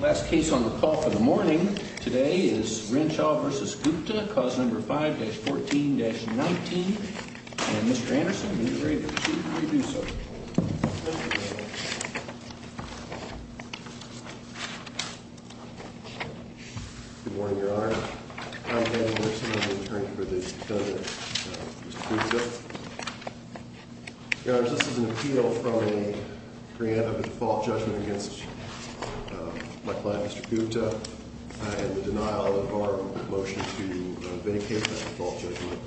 Last case on the call for the morning today is Renshaw v. Gupta, cause number 5-14-19. And Mr. Anderson, when you're ready to proceed, please do so. Good morning, Your Honor. I'm Daniel Anderson, I'm the attorney for this defendant, Mr. Gupta. Your Honor, this is an appeal from a grant of a default judgment against my client, Mr. Gupta, and the denial of our motion to vindicate that default judgment.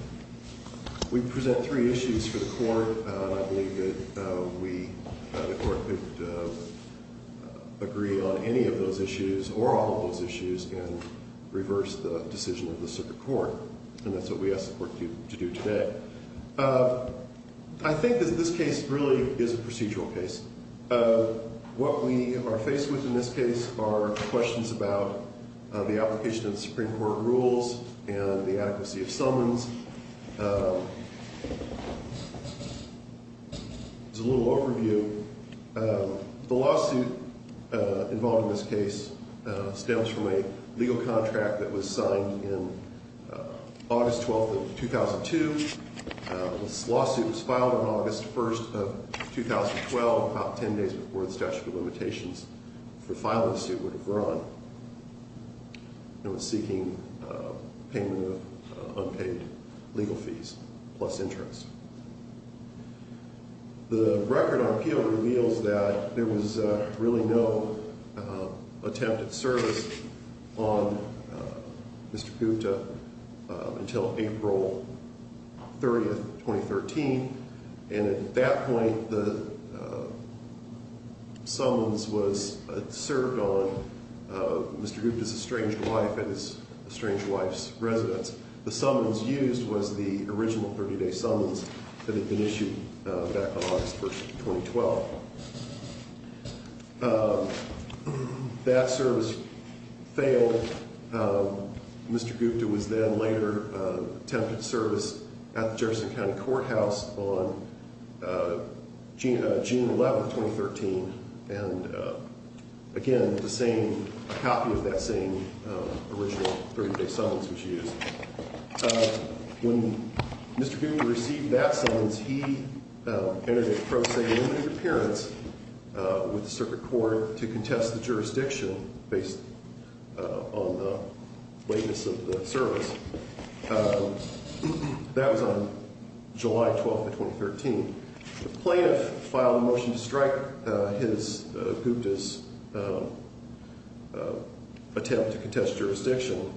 We present three issues for the court, and I believe that we, the court, could agree on any of those issues, or all of those issues, and reverse the decision of the circuit court. And that's what we ask the court to do today. I think that this case really is a procedural case. What we are faced with in this case are questions about the application of the Supreme Court rules and the adequacy of summons. There's a little overview. The lawsuit involved in this case stems from a legal contract that was signed in August 12th of 2002. This lawsuit was filed on August 1st of 2012, about 10 days before the statute of limitations for filing the suit would have run. It was seeking payment of unpaid legal fees, plus interest. The record on appeal reveals that there was really no attempt at service on Mr. Gupta until April 30th, 2013. And at that point, the summons was served on Mr. Gupta's estranged wife and his estranged wife's residence. The summons used was the original 30-day summons that had been issued back on August 1st, 2012. That service failed. Mr. Gupta was then later tempted to service at the Jefferson County Courthouse on June 11th, 2013. And again, the same copy of that same original 30-day summons was used. When Mr. Gupta received that summons, he entered a pro se limited appearance with the circuit court to contest the jurisdiction based on the lateness of the service. That was on July 12th of 2013. The plaintiff filed a motion to strike his, Gupta's attempt to contest jurisdiction.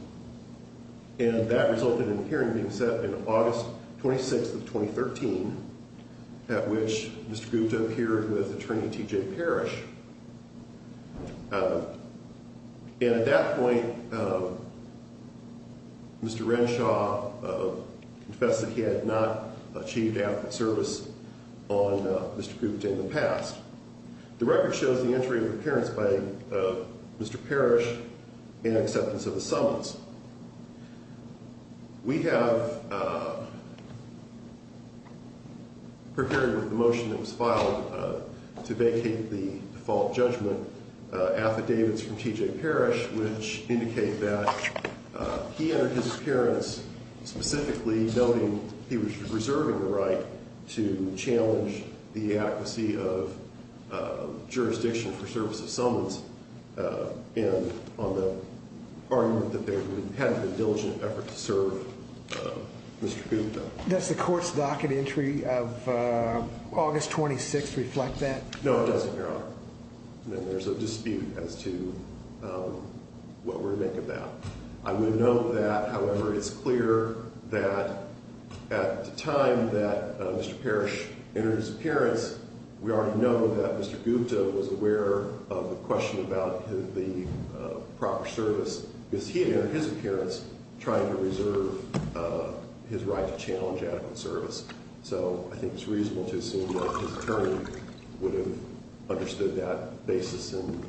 And that resulted in a hearing being set in August 26th of 2013, at which Mr. Gupta appeared with Attorney T.J. Parrish. And at that point, Mr. Renshaw confessed that he had not achieved adequate service on Mr. Gupta in the past. The record shows the entry of appearance by Mr. Parrish and acceptance of the summons. We have, preparing with the motion that was filed to vacate the default judgment, affidavits from T.J. Parrish, which indicate that he entered his appearance specifically noting he was reserving the right to challenge the adequacy of jurisdiction for service of summons. And on the argument that they had a diligent effort to serve Mr. Gupta. Does the court's docket entry of August 26th reflect that? No, it doesn't, Your Honor. And there's a dispute as to what we're to make of that. I would note that, however, it's clear that at the time that Mr. Parrish entered his appearance, we already know that Mr. Gupta was aware of the question about the proper service. Because he had entered his appearance trying to reserve his right to challenge adequate service. So I think it's reasonable to assume that his attorney would have understood that basis and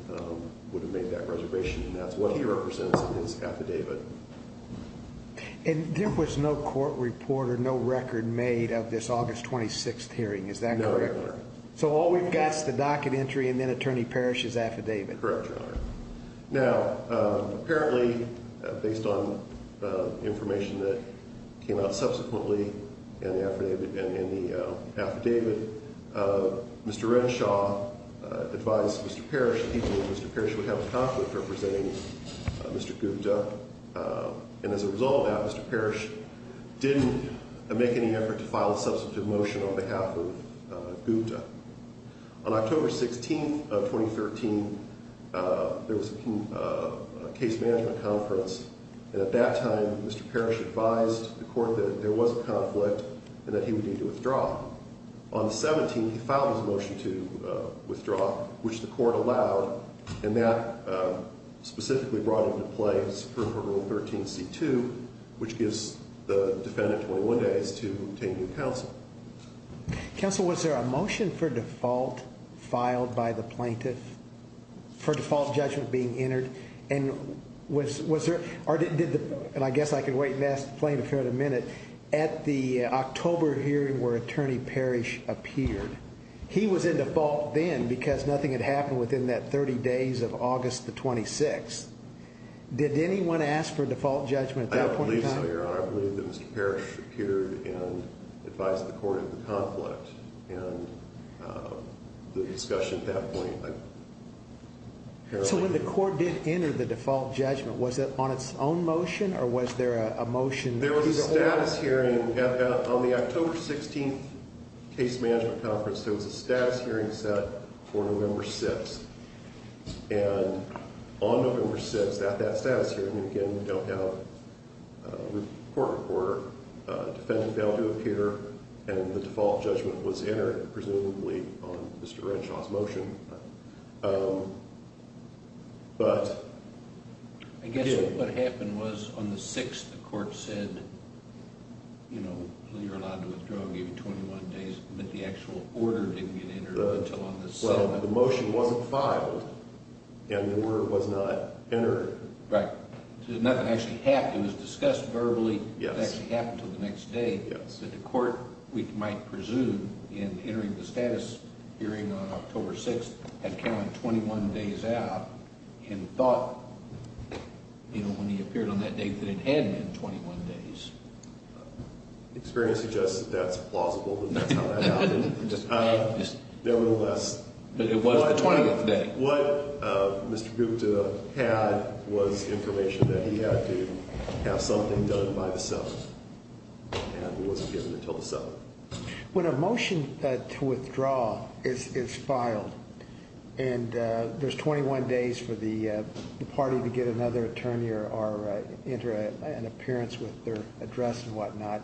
would have made that reservation. And that's what he represents in his affidavit. And there was no court report or no record made of this August 26th hearing, is that correct? No, Your Honor. So all we've got is the docket entry and then Attorney Parrish's affidavit. Correct, Your Honor. Now, apparently, based on information that came out subsequently in the affidavit, Mr. Renshaw advised Mr. Parrish that he and Mr. Parrish would have a conflict representing Mr. Gupta. And as a result of that, Mr. Parrish didn't make any effort to file a substantive motion on behalf of Gupta. On October 16th of 2013, there was a case management conference. And at that time, Mr. Parrish advised the court that there was a conflict and that he would need to withdraw. On the 17th, he filed his motion to withdraw, which the court allowed. And that specifically brought into play Superior Court Rule 13c2, which gives the defendant 21 days to obtain new counsel. Counsel, was there a motion for default filed by the plaintiff for default judgment being entered? And I guess I could wait and ask the plaintiff here in a minute. At the October hearing where Attorney Parrish appeared, he was in default then because nothing had happened within that 30 days of August the 26th. Did anyone ask for default judgment at that point in time? I believe so, Your Honor. I believe that Mr. Parrish appeared and advised the court of the conflict. And the discussion at that point, apparently... So when the court did enter the default judgment, was it on its own motion or was there a motion... There was a status hearing on the October 16th case management conference. There was a status hearing set for November 6th. And on November 6th, at that status hearing, again, we don't have a court reporter. Defendant failed to appear and the default judgment was entered, presumably on Mr. Renshaw's motion. But... I guess what happened was on the 6th, the court said, you know, you're allowed to withdraw, give you 21 days, but the actual order didn't get entered until on the 7th. Well, the motion wasn't filed and the word was not entered. Right. So nothing actually happened. It was discussed verbally. Yes. It actually happened until the next day. Yes. So the court, we might presume, in entering the status hearing on October 6th, had counted 21 days out and thought, you know, when he appeared on that date, that it had been 21 days. Experience suggests that that's plausible, that that's how that happened. Nevertheless... But it was the 20th day. And what Mr. Gupta had was information that he had to have something done by the 7th and it wasn't given until the 7th. When a motion to withdraw is filed and there's 21 days for the party to get another attorney or enter an appearance with their address and whatnot,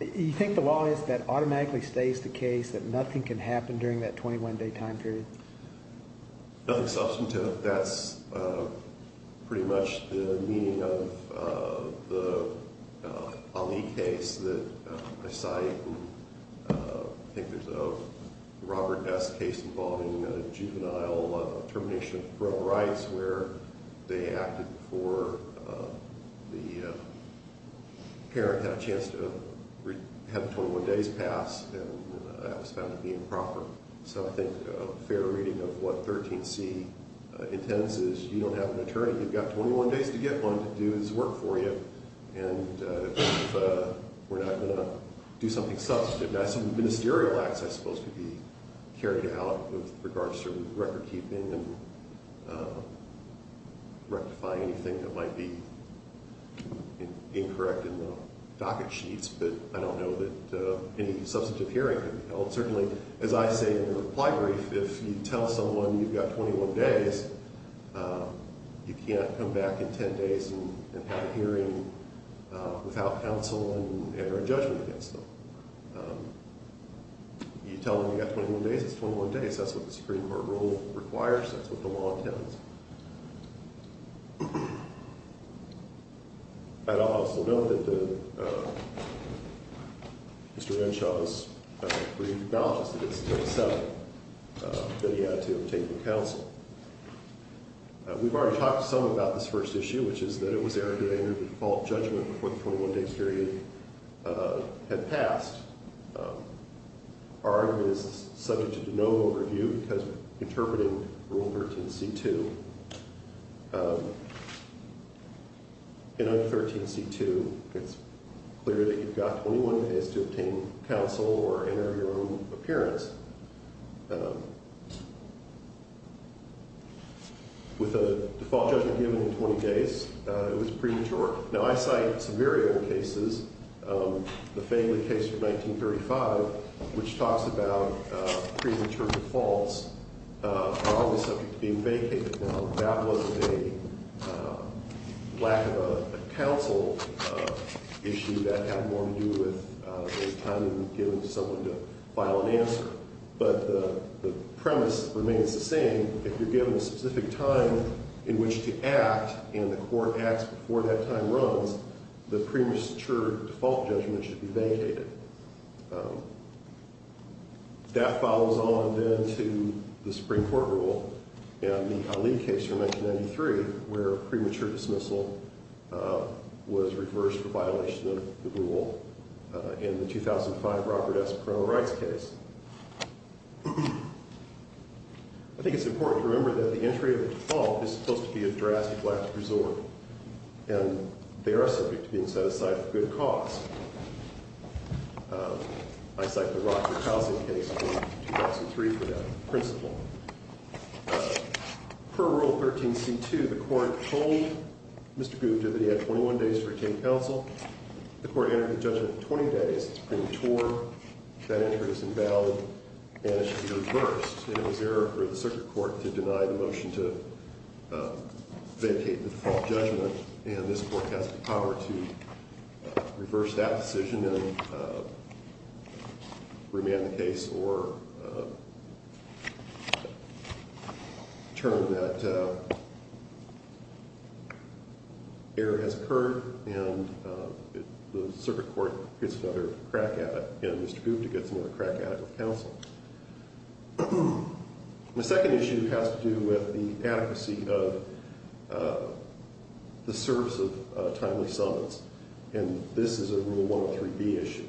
you think the law is that it automatically stays the case that nothing can happen during that 21 day time period? Nothing substantive. That's pretty much the meaning of the Ali case that I cite. I think there's a Robert S. case involving juvenile termination of parental rights where they acted before the parent had a chance to have the 21 days pass and that was found to be improper. So I think a fair reading of what 13C intends is you don't have an attorney. You've got 21 days to get one to do this work for you. And if we're not going to do something substantive, that's ministerial acts that are supposed to be carried out with regards to record keeping and rectifying anything that might be incorrect in the docket sheets. But I don't know that any substantive hearing can be held. Certainly, as I say in the reply brief, if you tell someone you've got 21 days, you can't come back in 10 days and have a hearing without counsel and enter a judgment against them. You tell them you've got 21 days, it's 21 days. That's what the Supreme Court rule requires. That's what the law intends. I'd also note that Mr. Renshaw's brief acknowledges that it's until the 7th that he had to have taken counsel. We've already talked to some about this first issue, which is that it was Eric who entered the default judgment before the 21-day period had passed. Our argument is subject to no overview because we're interpreting Rule 13c-2. And under 13c-2, it's clear that you've got 21 days to obtain counsel or enter your own appearance. With a default judgment given in 20 days, it was premature. Now, I cite some very old cases, the Fangley case from 1935, which talks about pre-interpret defaults, probably subject to being vacated. Now, that was a lack of a counsel issue that had more to do with the time given to someone to file an answer. But the premise remains the same. If you're given a specific time in which to act and the court acts before that time runs, the premature default judgment should be vacated. That follows on, then, to the Supreme Court rule and the Ali case from 1993, where premature dismissal was reversed for violation of the rule in the 2005 Robert S. Perone rights case. I think it's important to remember that the entry of a default is supposed to be a drastic lack to preserve, and they are subject to being set aside for good cause. I cite the Rockford Housing case from 2003 for that principle. Per Rule 13c-2, the court told Mr. Goode that he had 21 days to obtain counsel. The court entered the judgment in 20 days. It's premature. That entry is invalid, and it should be reversed. It was error for the circuit court to deny the motion to vacate the default judgment, and this court has the power to reverse that decision and remand the case or determine that error has occurred, and the circuit court gets another crack at it. Mr. Goode gets another crack at it with counsel. The second issue has to do with the adequacy of the service of timely summons, and this is a Rule 103b issue.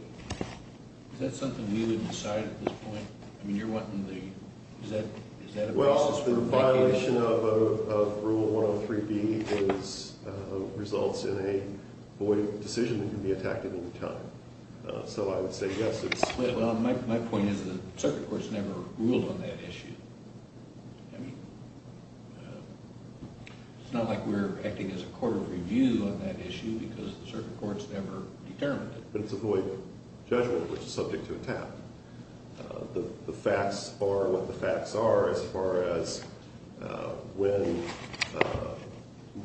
Is that something we would decide at this point? I mean, you're wanting the – is that a process for vacating? Well, the violation of Rule 103b results in a void decision that can be attacked at any time. So I would say yes, it's split. Well, my point is the circuit court's never ruled on that issue. I mean, it's not like we're acting as a court of review on that issue because the circuit court's never determined it. But it's a void judgment, which is subject to attack. The facts are what the facts are as far as when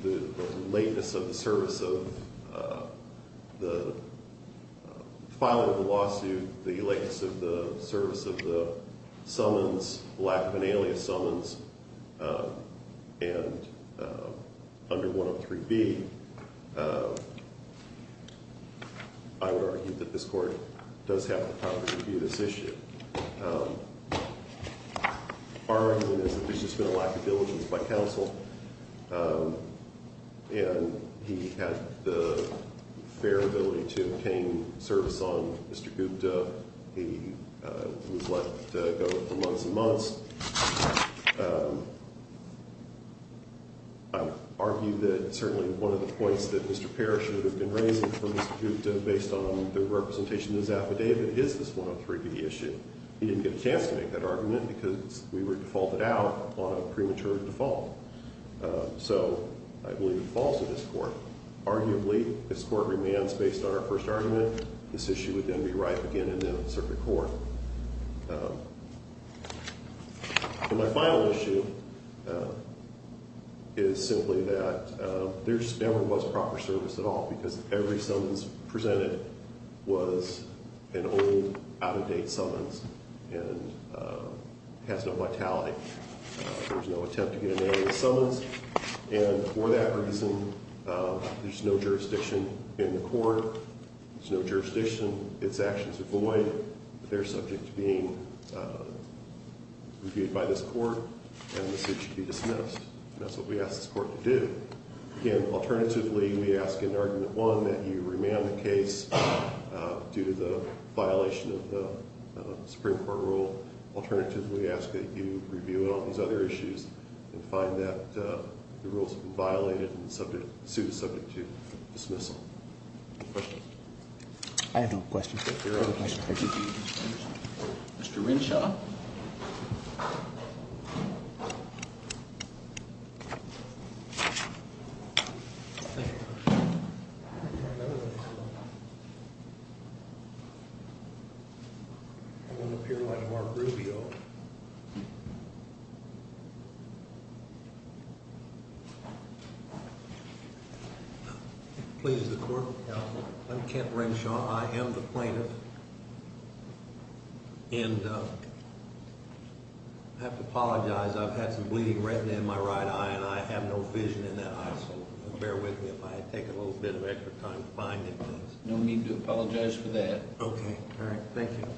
the lateness of the service of the filing of the lawsuit, the lateness of the service of the summons, lack of an alias summons, and under 103b. I would argue that this Court does have the power to review this issue. Our argument is that there's just been a lack of diligence by counsel, and he had the fair ability to obtain service on Mr. Goode. He was let go for months and months. I argue that certainly one of the points that Mr. Parrish would have been raising for Mr. Goode based on the representation in his affidavit is this 103b issue. He didn't get a chance to make that argument because we would default it out on a premature default. So I believe it falls to this Court. Arguably, this Court remains based on our first argument. This issue would then be right again in the circuit court. My final issue is simply that there never was proper service at all because every summons presented was an old, out-of-date summons and has no vitality. There was no attempt to get an alias summons, and for that reason, there's no jurisdiction in the Court. There's no jurisdiction. Its actions are void. They're subject to being reviewed by this Court, and the suit should be dismissed. That's what we ask this Court to do. Again, alternatively, we ask in argument one that you remand the case due to the violation of the Supreme Court rule. Alternatively, we ask that you review it on these other issues and find that the rules have been violated and the suit is subject to dismissal. Any questions? I have no questions. Mr. Renshaw. Please, the Court will count. I'm Kent Renshaw. I am the plaintiff, and I have to apologize. I've had some bleeding retina in my right eye, and I have no vision in that eye, so bear with me if I take a little bit of extra time finding things. No need to apologize for that. Okay. All right. Thank you.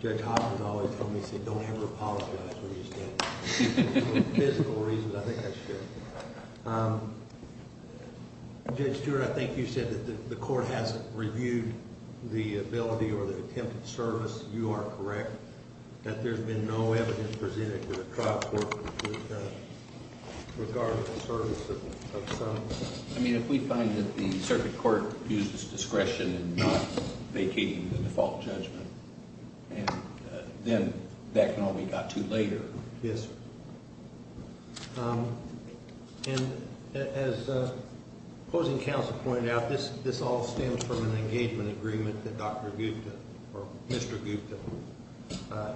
Judge Hoffman always told me, he said, don't ever apologize for these things. For physical reasons, I think I should. Judge Stewart, I think you said that the Court hasn't reviewed the ability or the attempted service. You are correct that there's been no evidence presented to the trial court regarding the service of some. I mean, if we find that the circuit court uses discretion in not vacating the default judgment, then that can only be got to later. Yes, sir. And as the opposing counsel pointed out, this all stems from an engagement agreement that Dr. Gupta, or Mr. Gupta,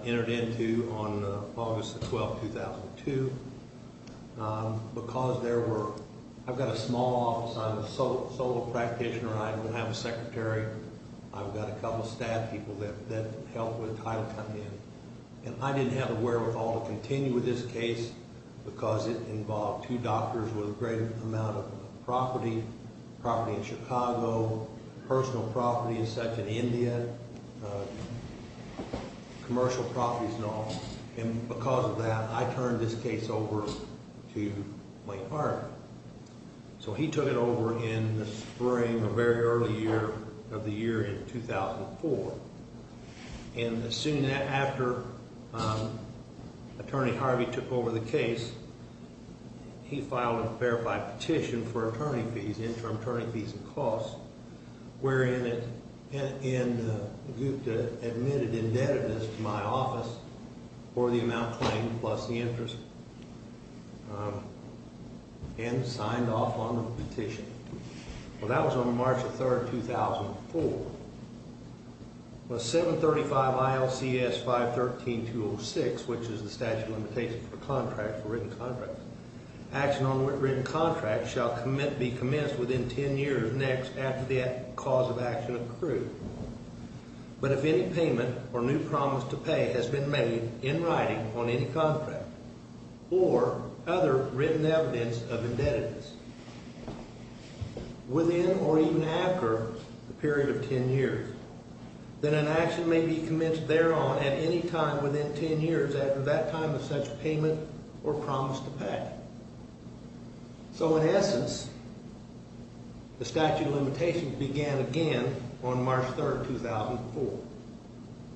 entered into on August the 12th, 2002. Because there were – I've got a small office. I'm a solo practitioner. I don't have a secretary. I've got a couple of staff people that help with title come in. And I didn't have the wherewithal to continue with this case because it involved two doctors with a great amount of property, property in Chicago, personal property in Central India, commercial properties and all. And because of that, I turned this case over to Wayne Hart. So he took it over in the spring, the very early year of the year in 2004. And soon after Attorney Harvey took over the case, he filed a verified petition for attorney fees, interim attorney fees and costs, wherein Gupta admitted indebtedness to my office for the amount claimed plus the interest and signed off on the petition. Well, that was on March the 3rd, 2004. Well, 735 ILCS 513-206, which is the statute of limitations for contracts, for written contracts, action on written contracts shall be commenced within 10 years next after the cause of action accrued. But if any payment or new promise to pay has been made in writing on any contract or other written evidence of indebtedness within or even after the period of 10 years, then an action may be commenced thereon at any time within 10 years after that time of such payment or promise to pay. So in essence, the statute of limitations began again on March 3rd, 2004.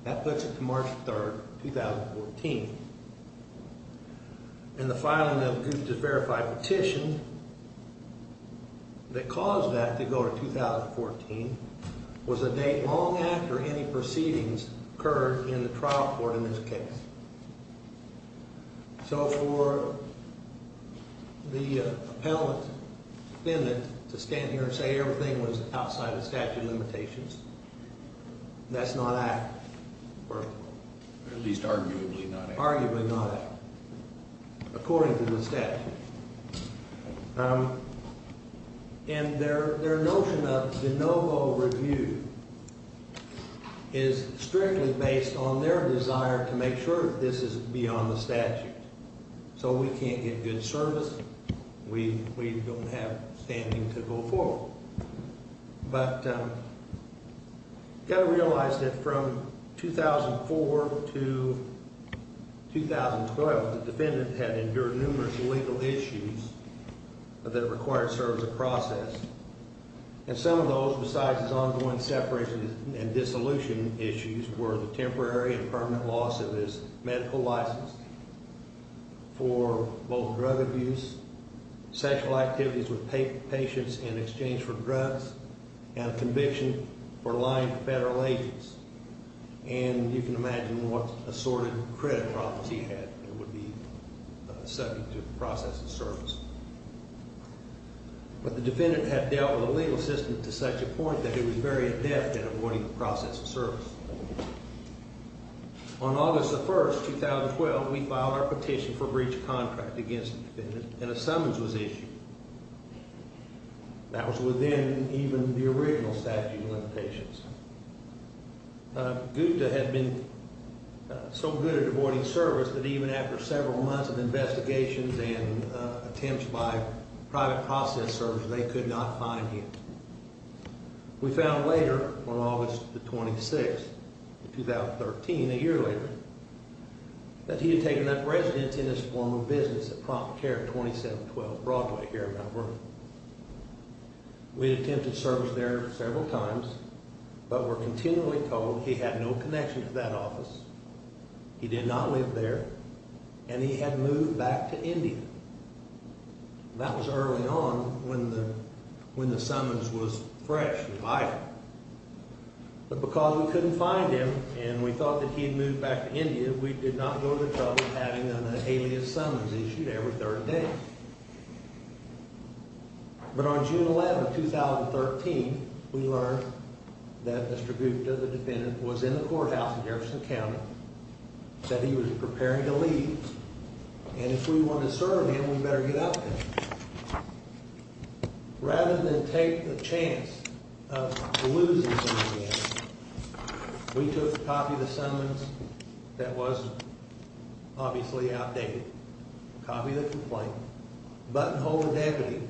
That puts it to March 3rd, 2014. And the filing of Gupta's verified petition that caused that to go to 2014 was a date long after any proceedings occurred in the trial court in this case. So for the appellant defendant to stand here and say everything was outside the statute of limitations, that's not accurate. Or at least arguably not accurate. Arguably not accurate, according to the statute. And their notion of de novo review is strictly based on their desire to make sure that this is beyond the statute. So we can't get good service. We don't have standing to go forward. But you've got to realize that from 2004 to 2012, the defendant had endured numerous legal issues that are required to serve the process. And some of those, besides his ongoing separation and dissolution issues, were the temporary and permanent loss of his medical license for both drug abuse, sexual activities with patients in exchange for drugs, and a conviction for lying to federal agents. And you can imagine what assorted credit problems he had that would be subject to the process of service. But the defendant had dealt with a legal system to such a point that it was very adept at avoiding the process of service. On August 1st, 2012, we filed our petition for breach of contract against the defendant, and a summons was issued. That was within even the original statute of limitations. Gupta had been so good at avoiding service that even after several months of investigations and attempts by private process services, they could not find him. We found later, on August 26th, 2013, a year later, that he had taken up residence in his former business at Prompt Care 2712 Broadway here in Mount Vernon. We had attempted service there several times, but were continually told he had no connection to that office, he did not live there, and he had moved back to India. That was early on when the summons was fresh and vital. But because we couldn't find him, and we thought that he had moved back to India, we did not go to the trouble of having an alias summons issued every third day. But on June 11th, 2013, we learned that Mr. Gupta, the defendant, was in the courthouse in Jefferson County, that he was preparing to leave, and if we want to serve him, we better get up there. Rather than take the chance of losing him again, we took a copy of the summons that was obviously outdated, a copy of the complaint, buttonholed the deputy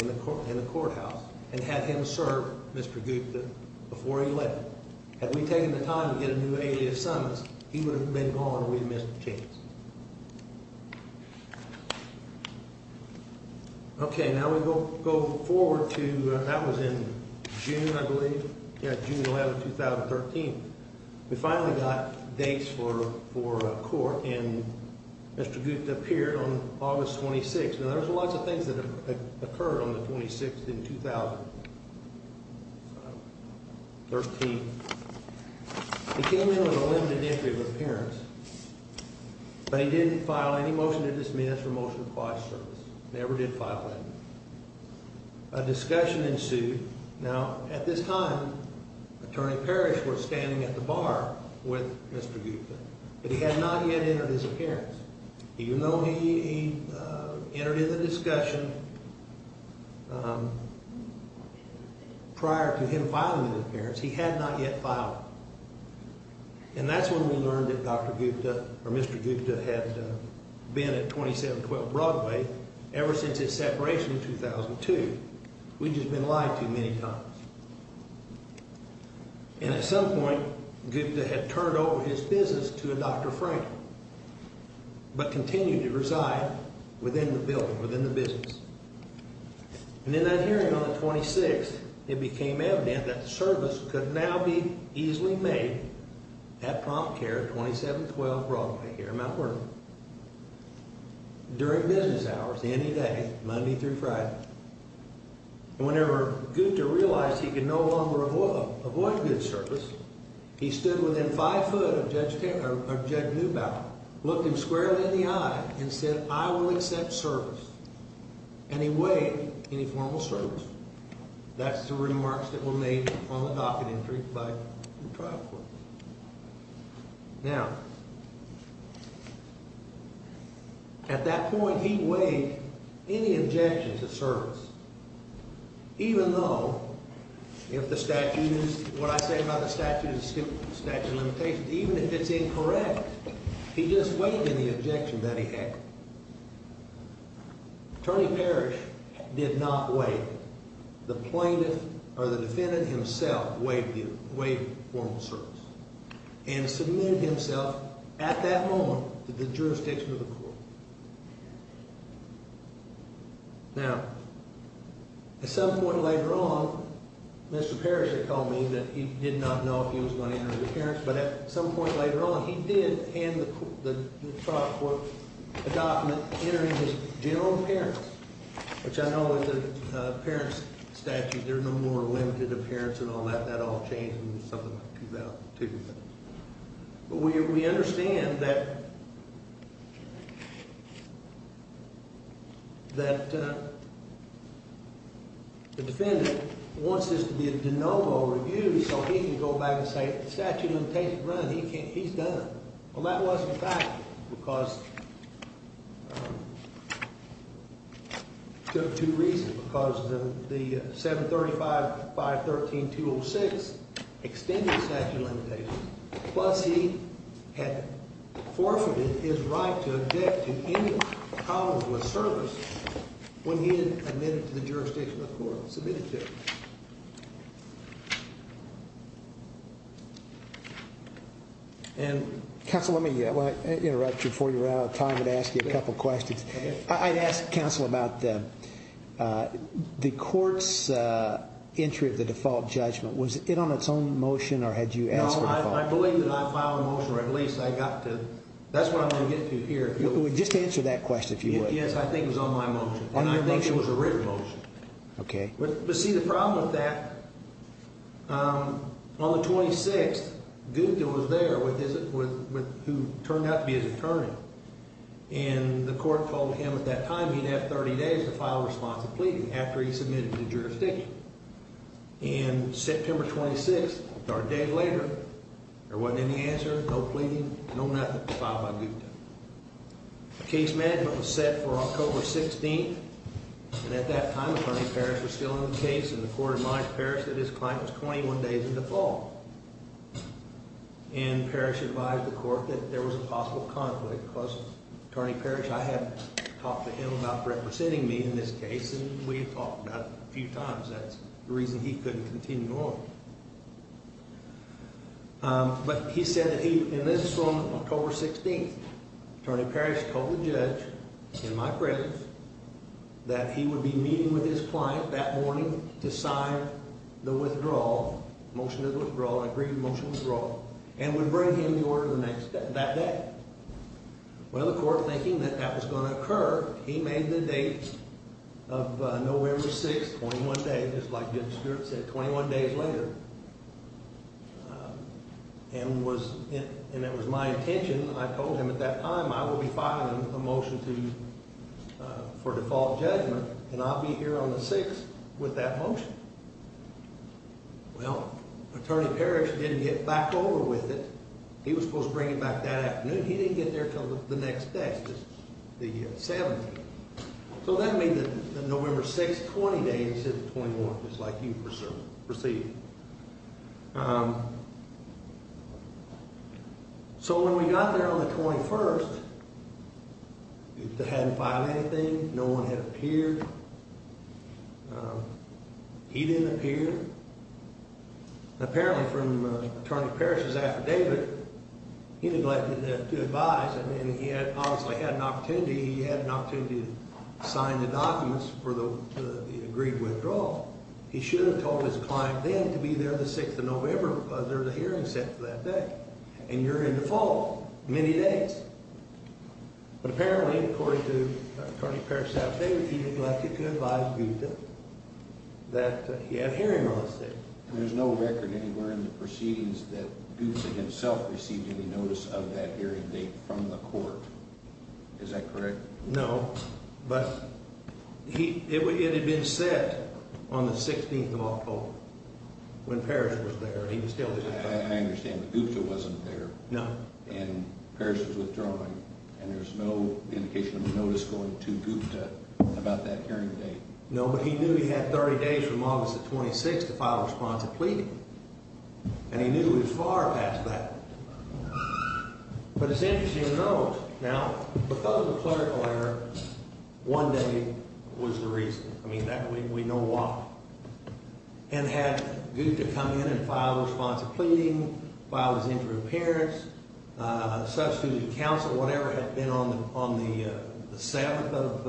in the courthouse, and had him serve Mr. Gupta before he left. Had we taken the time to get a new alias summons, he would have been gone and we would have missed the chance. Okay, now we go forward to, that was in June, I believe, yeah, June 11th, 2013. We finally got dates for court, and Mr. Gupta appeared on August 26th. Now, there's lots of things that occurred on the 26th in 2013. He came in with a limited entry of appearance, but he didn't file any motion to dismiss or motion to apply for service. Never did file that motion. A discussion ensued. Now, at this time, Attorney Parrish was standing at the bar with Mr. Gupta, but he had not yet entered his appearance. Even though he entered into the discussion prior to him filing his appearance, he had not yet filed. And that's when we learned that Dr. Gupta, or Mr. Gupta, had been at 2712 Broadway ever since his separation in 2002. We'd just been lied to many times. And at some point, Gupta had turned over his business to a Dr. Franklin, but continued to reside within the building, within the business. And in that hearing on the 26th, it became evident that service could now be easily made at Prompt Care at 2712 Broadway here in Mount Vernon. During business hours, any day, Monday through Friday. And whenever Gupta realized he could no longer avoid good service, he stood within five foot of Judge Neubauer, looked him squarely in the eye, and said, I will accept service. And he waived any formal service. That's the remarks that were made on the docket entry by the trial court. Now, at that point, he waived any objection to service. Even though, if the statute is, what I say about the statute is statute of limitations, even if it's incorrect, he just waived any objection that he had. Attorney Parrish did not waive it. The plaintiff, or the defendant himself, waived formal service. And submitted himself, at that moment, to the jurisdiction of the court. Now, at some point later on, Mr. Parrish had told me that he did not know if he was going to enter the appearance. But at some point later on, he did hand the trial court a document entering his general appearance. Which I know is an appearance statute. There are no more limited appearance and all that. That all changed when something like that took effect. We understand that the defendant wants this to be a de novo review, so he can go back and say, statute of limitations, run, he's done. Well, that wasn't a fact, because it took two reasons. Because the 735-513-206 extended statute of limitations. Plus, he had forfeited his right to object to any problems with service when he had admitted to the jurisdiction of the court and submitted to it. Counsel, let me interrupt you before you run out of time and ask you a couple questions. I'd ask counsel about the court's entry of the default judgment. Was it on its own motion, or had you asked for a default? No, I believe that I filed a motion, or at least I got to, that's what I'm going to get to here. Just answer that question, if you would. Yes, I think it was on my motion. And I think it was a written motion. But see, the problem with that, on the 26th, Gupta was there, who turned out to be his attorney. And the court told him at that time he'd have 30 days to file a response of pleading after he submitted to the jurisdiction. And September 26th, or a day later, there wasn't any answer, no pleading, no nothing, filed by Gupta. Case management was set for October 16th. And at that time, Attorney Parrish was still in the case, and the court admonished Parrish that his client was 21 days in default. And Parrish advised the court that there was a possible conflict, because Attorney Parrish, I had talked to him about representing me in this case, and we had talked about it a few times. That's the reason he couldn't continue on. But he said that he, and this is from October 16th, Attorney Parrish told the judge, in my presence, that he would be meeting with his client that morning to sign the withdrawal, motion to withdraw, agreed motion to withdraw, and would bring him the order the next day, that day. Well, the court, thinking that that was going to occur, he made the date of November 6th, 21 days, just like Judge Stewart said, 21 days later. And it was my intention, I told him at that time, I will be filing a motion for default judgment, and I'll be here on the 6th with that motion. Well, Attorney Parrish didn't get back over with it. He was supposed to bring it back that afternoon. He didn't get there until the next day, the 17th. So that made the November 6th, 20 days, 21, just like you perceived. So when we got there on the 21st, they hadn't filed anything. No one had appeared. He didn't appear. Apparently, from Attorney Parrish's affidavit, he neglected to advise, and he had, honestly, had an opportunity, he had an opportunity to sign the documents for the agreed withdrawal. He should have told his client then to be there the 6th of November, because there was a hearing set for that day. And you're in default, many days. But apparently, according to Attorney Parrish's affidavit, he neglected to advise Gupta that he had a hearing on the 6th. There's no record anywhere in the proceedings that Gupta himself received any notice of that hearing date from the court. Is that correct? No, but it had been set on the 16th of October, when Parrish was there. I understand that Gupta wasn't there. No. And there's no indication of a notice going to Gupta about that hearing date. No, but he knew he had 30 days from August the 26th to file a response of pleading. And he knew it was far past that. But it's interesting to note, now, the fact that the clerical error one day was the reason. I mean, we know why. And had Gupta come in and filed a response of pleading, filed his interim appearance, substituted counsel, whatever had been on the 7th of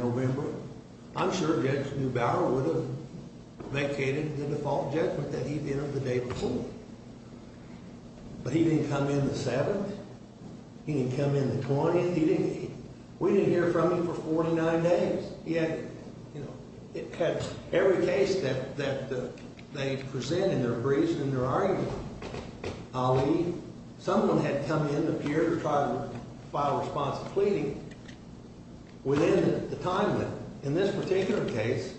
November, I'm sure Judge Neubauer would have vacated the default judgment that he'd entered the day before. But he didn't come in the 7th. He didn't come in the 20th. We didn't hear from him for 49 days. He had every case that they present in their briefs and in their arguments. Ali, someone had come in to appear to try to file a response of pleading within the time limit. In this particular case,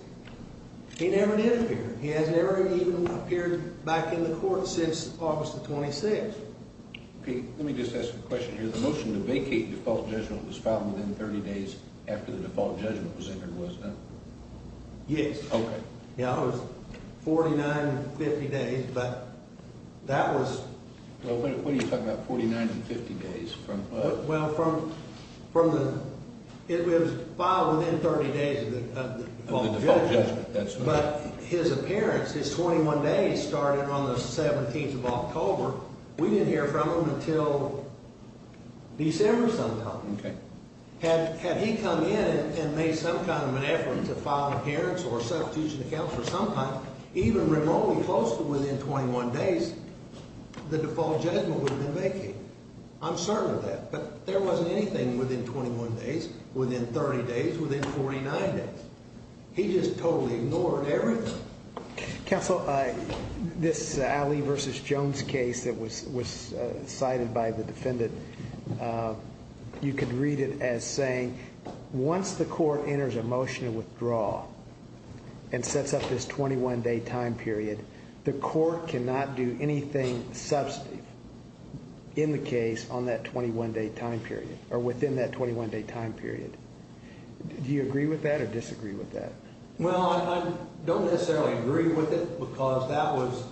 he never did appear. He has never even appeared back in the court since August the 26th. Pete, let me just ask a question here. The motion to vacate the default judgment was filed within 30 days after the default judgment was entered, wasn't it? Yes. Okay. Yeah, it was 49 and 50 days. But that was... Well, what are you talking about, 49 and 50 days from... Well, from the... It was filed within 30 days of the default judgment. But his appearance, his 21 days, started on the 17th of October. We didn't hear from him until December somehow. Okay. Had he come in and made some kind of an effort to file an adherence or substitution account for some time, even remotely close to within 21 days, the default judgment would have been vacated. I'm certain of that. But there wasn't anything within 21 days, within 30 days, within 49 days. He just totally ignored everything. Counsel, this Ali v. Jones case that was cited by the defendant, you could read it as saying, once the court enters a motion to withdraw and sets up this 21-day time period, the court cannot do anything substantive in the case on that 21-day time period, or within that 21-day time period. Do you agree with that or disagree with that? Well, I don't necessarily agree with it because that was...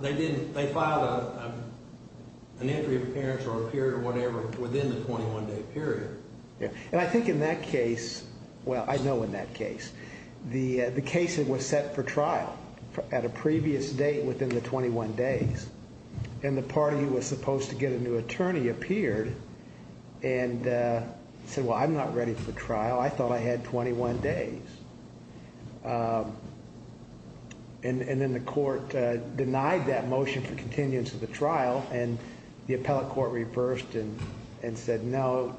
They filed an entry of adherence or a period or whatever within the 21-day period. And I think in that case, well, I know in that case, the case that was set for trial at a previous date within the 21 days, and the party who was supposed to get a new attorney appeared and said, well, I'm not ready for the trial. I thought I had 21 days. And then the court denied that motion for continuance of the trial, and the appellate court reversed and said, no,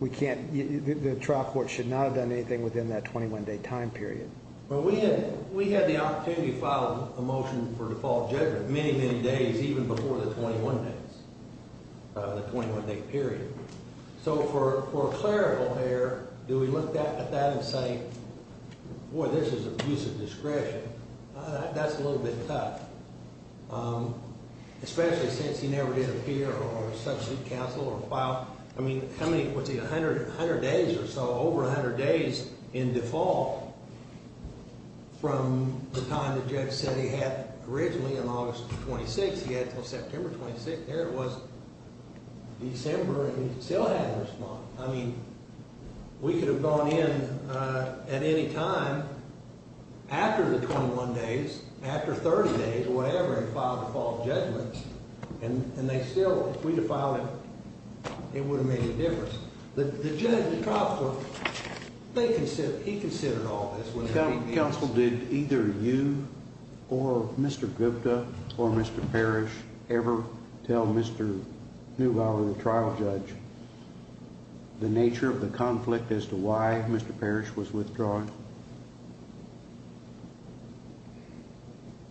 the trial court should not have done anything within that 21-day time period. Well, we had the opportunity to file a motion for default judgment many, many days, even before the 21 days, the 21-day period. So for a clerical error, do we look at that and say, boy, this is abuse of discretion? That's a little bit tough, especially since he never did appear or substitute counsel or file, I mean, how many, what's he, 100 days or so, over 100 days in default? From the time the judge said he had originally in August of 26, he had until September 26, there it was, December, and he still hadn't responded. I mean, we could have gone in at any time after the 21 days, after 30 days or whatever, and filed a default judgment, and they still, if we had filed it, it would have made a difference. The judge, the trial court, they considered, he considered all this. Counsel, did either you or Mr. Gupta or Mr. Parrish ever tell Mr. Neubauer, the trial judge, the nature of the conflict as to why Mr. Parrish was withdrawn?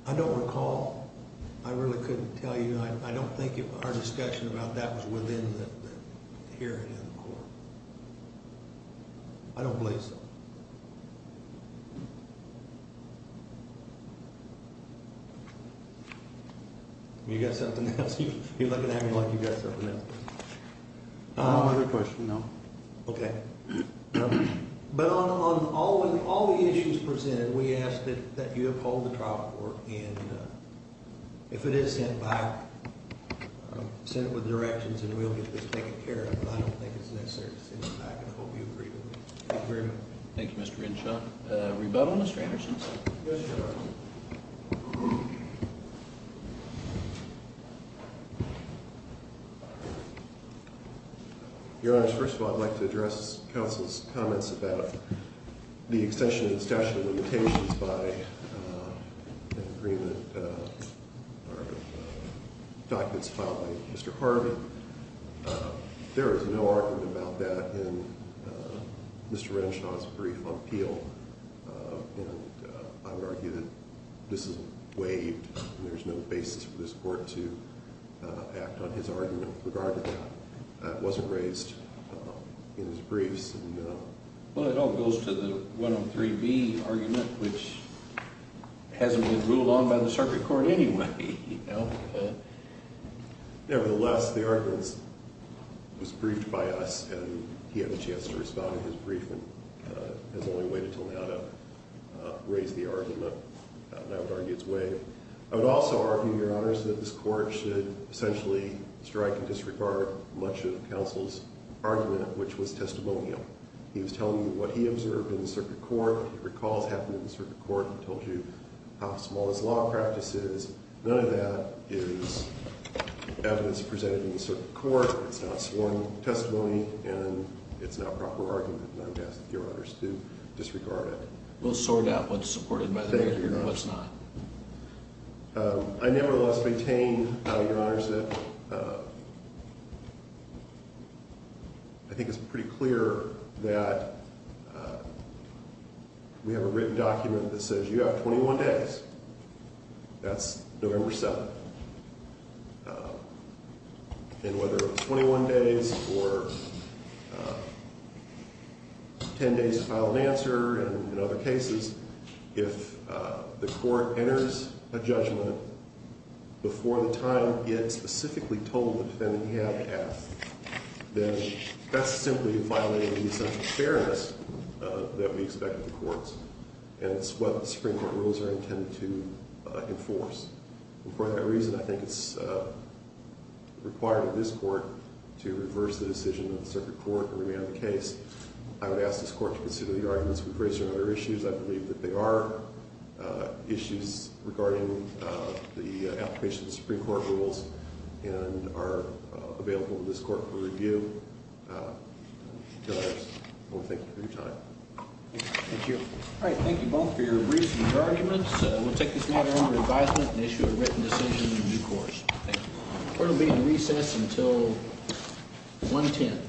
I don't recall. I really couldn't tell you. I don't think our discussion about that was within the hearing in the court. I don't believe so. You got something else? You're looking at me like you got something else. I don't have a question, no. Okay. But on all the issues presented, we asked that you uphold the trial court, and if it is sent back, send it with directions, and we'll get this taken care of, but I don't think it's necessary to send it back, and I hope you agree to that. Thank you very much. Thank you, Mr. Renshaw. Rebuttal, Mr. Anderson? Yes, Your Honor. Your Honor, first of all, I'd like to address counsel's comments about the extension of the statute of limitations by an agreement or documents filed by Mr. Harvin. There is no argument about that in Mr. Renshaw's brief on Peel, and I would argue that this is waived, and there's no basis for this court to act on his argument regarding that. It wasn't raised in his briefs. Well, it all goes to the 103B argument, which hasn't been ruled on by the circuit court anyway. Nevertheless, the argument was briefed by us, and he had a chance to respond to his brief, and has only waited until now to raise the argument, and I would argue it's waived. I would also argue, Your Honors, that this court should essentially strike in disregard much of counsel's argument, which was testimonial. He was telling you what he observed in the circuit court. He recalls what happened in the circuit court. He told you how small his law practice is. None of that is evidence presented in the circuit court. It's not sworn testimony, and it's not proper argument, and I would ask that Your Honors do disregard it. We'll sort out what's supported by the agreement and what's not. Thank you, Your Honor. I nevertheless maintain, Your Honors, that I think it's pretty clear that we have a written document that says you have 21 days. That's November 7th. And whether it's 21 days or 10 days to file an answer, and in other cases, if the court enters a judgment before the time it specifically told the defendant he had to ask, then that's simply violating the essential fairness that we expect of the courts, and it's what the Supreme Court rules are intended to enforce. And for that reason, I think it's required of this court to reverse the decision of the circuit court and remand the case. I would ask this court to consider the arguments we've raised on other issues. I believe that they are issues regarding the application of the Supreme Court rules and are available to this court for review. Your Honors, I want to thank you for your time. Thank you. All right. Thank you both for your briefs and your arguments. We'll take this matter under advisement and issue a written decision in due course. Thank you. Court will be in recess until 110.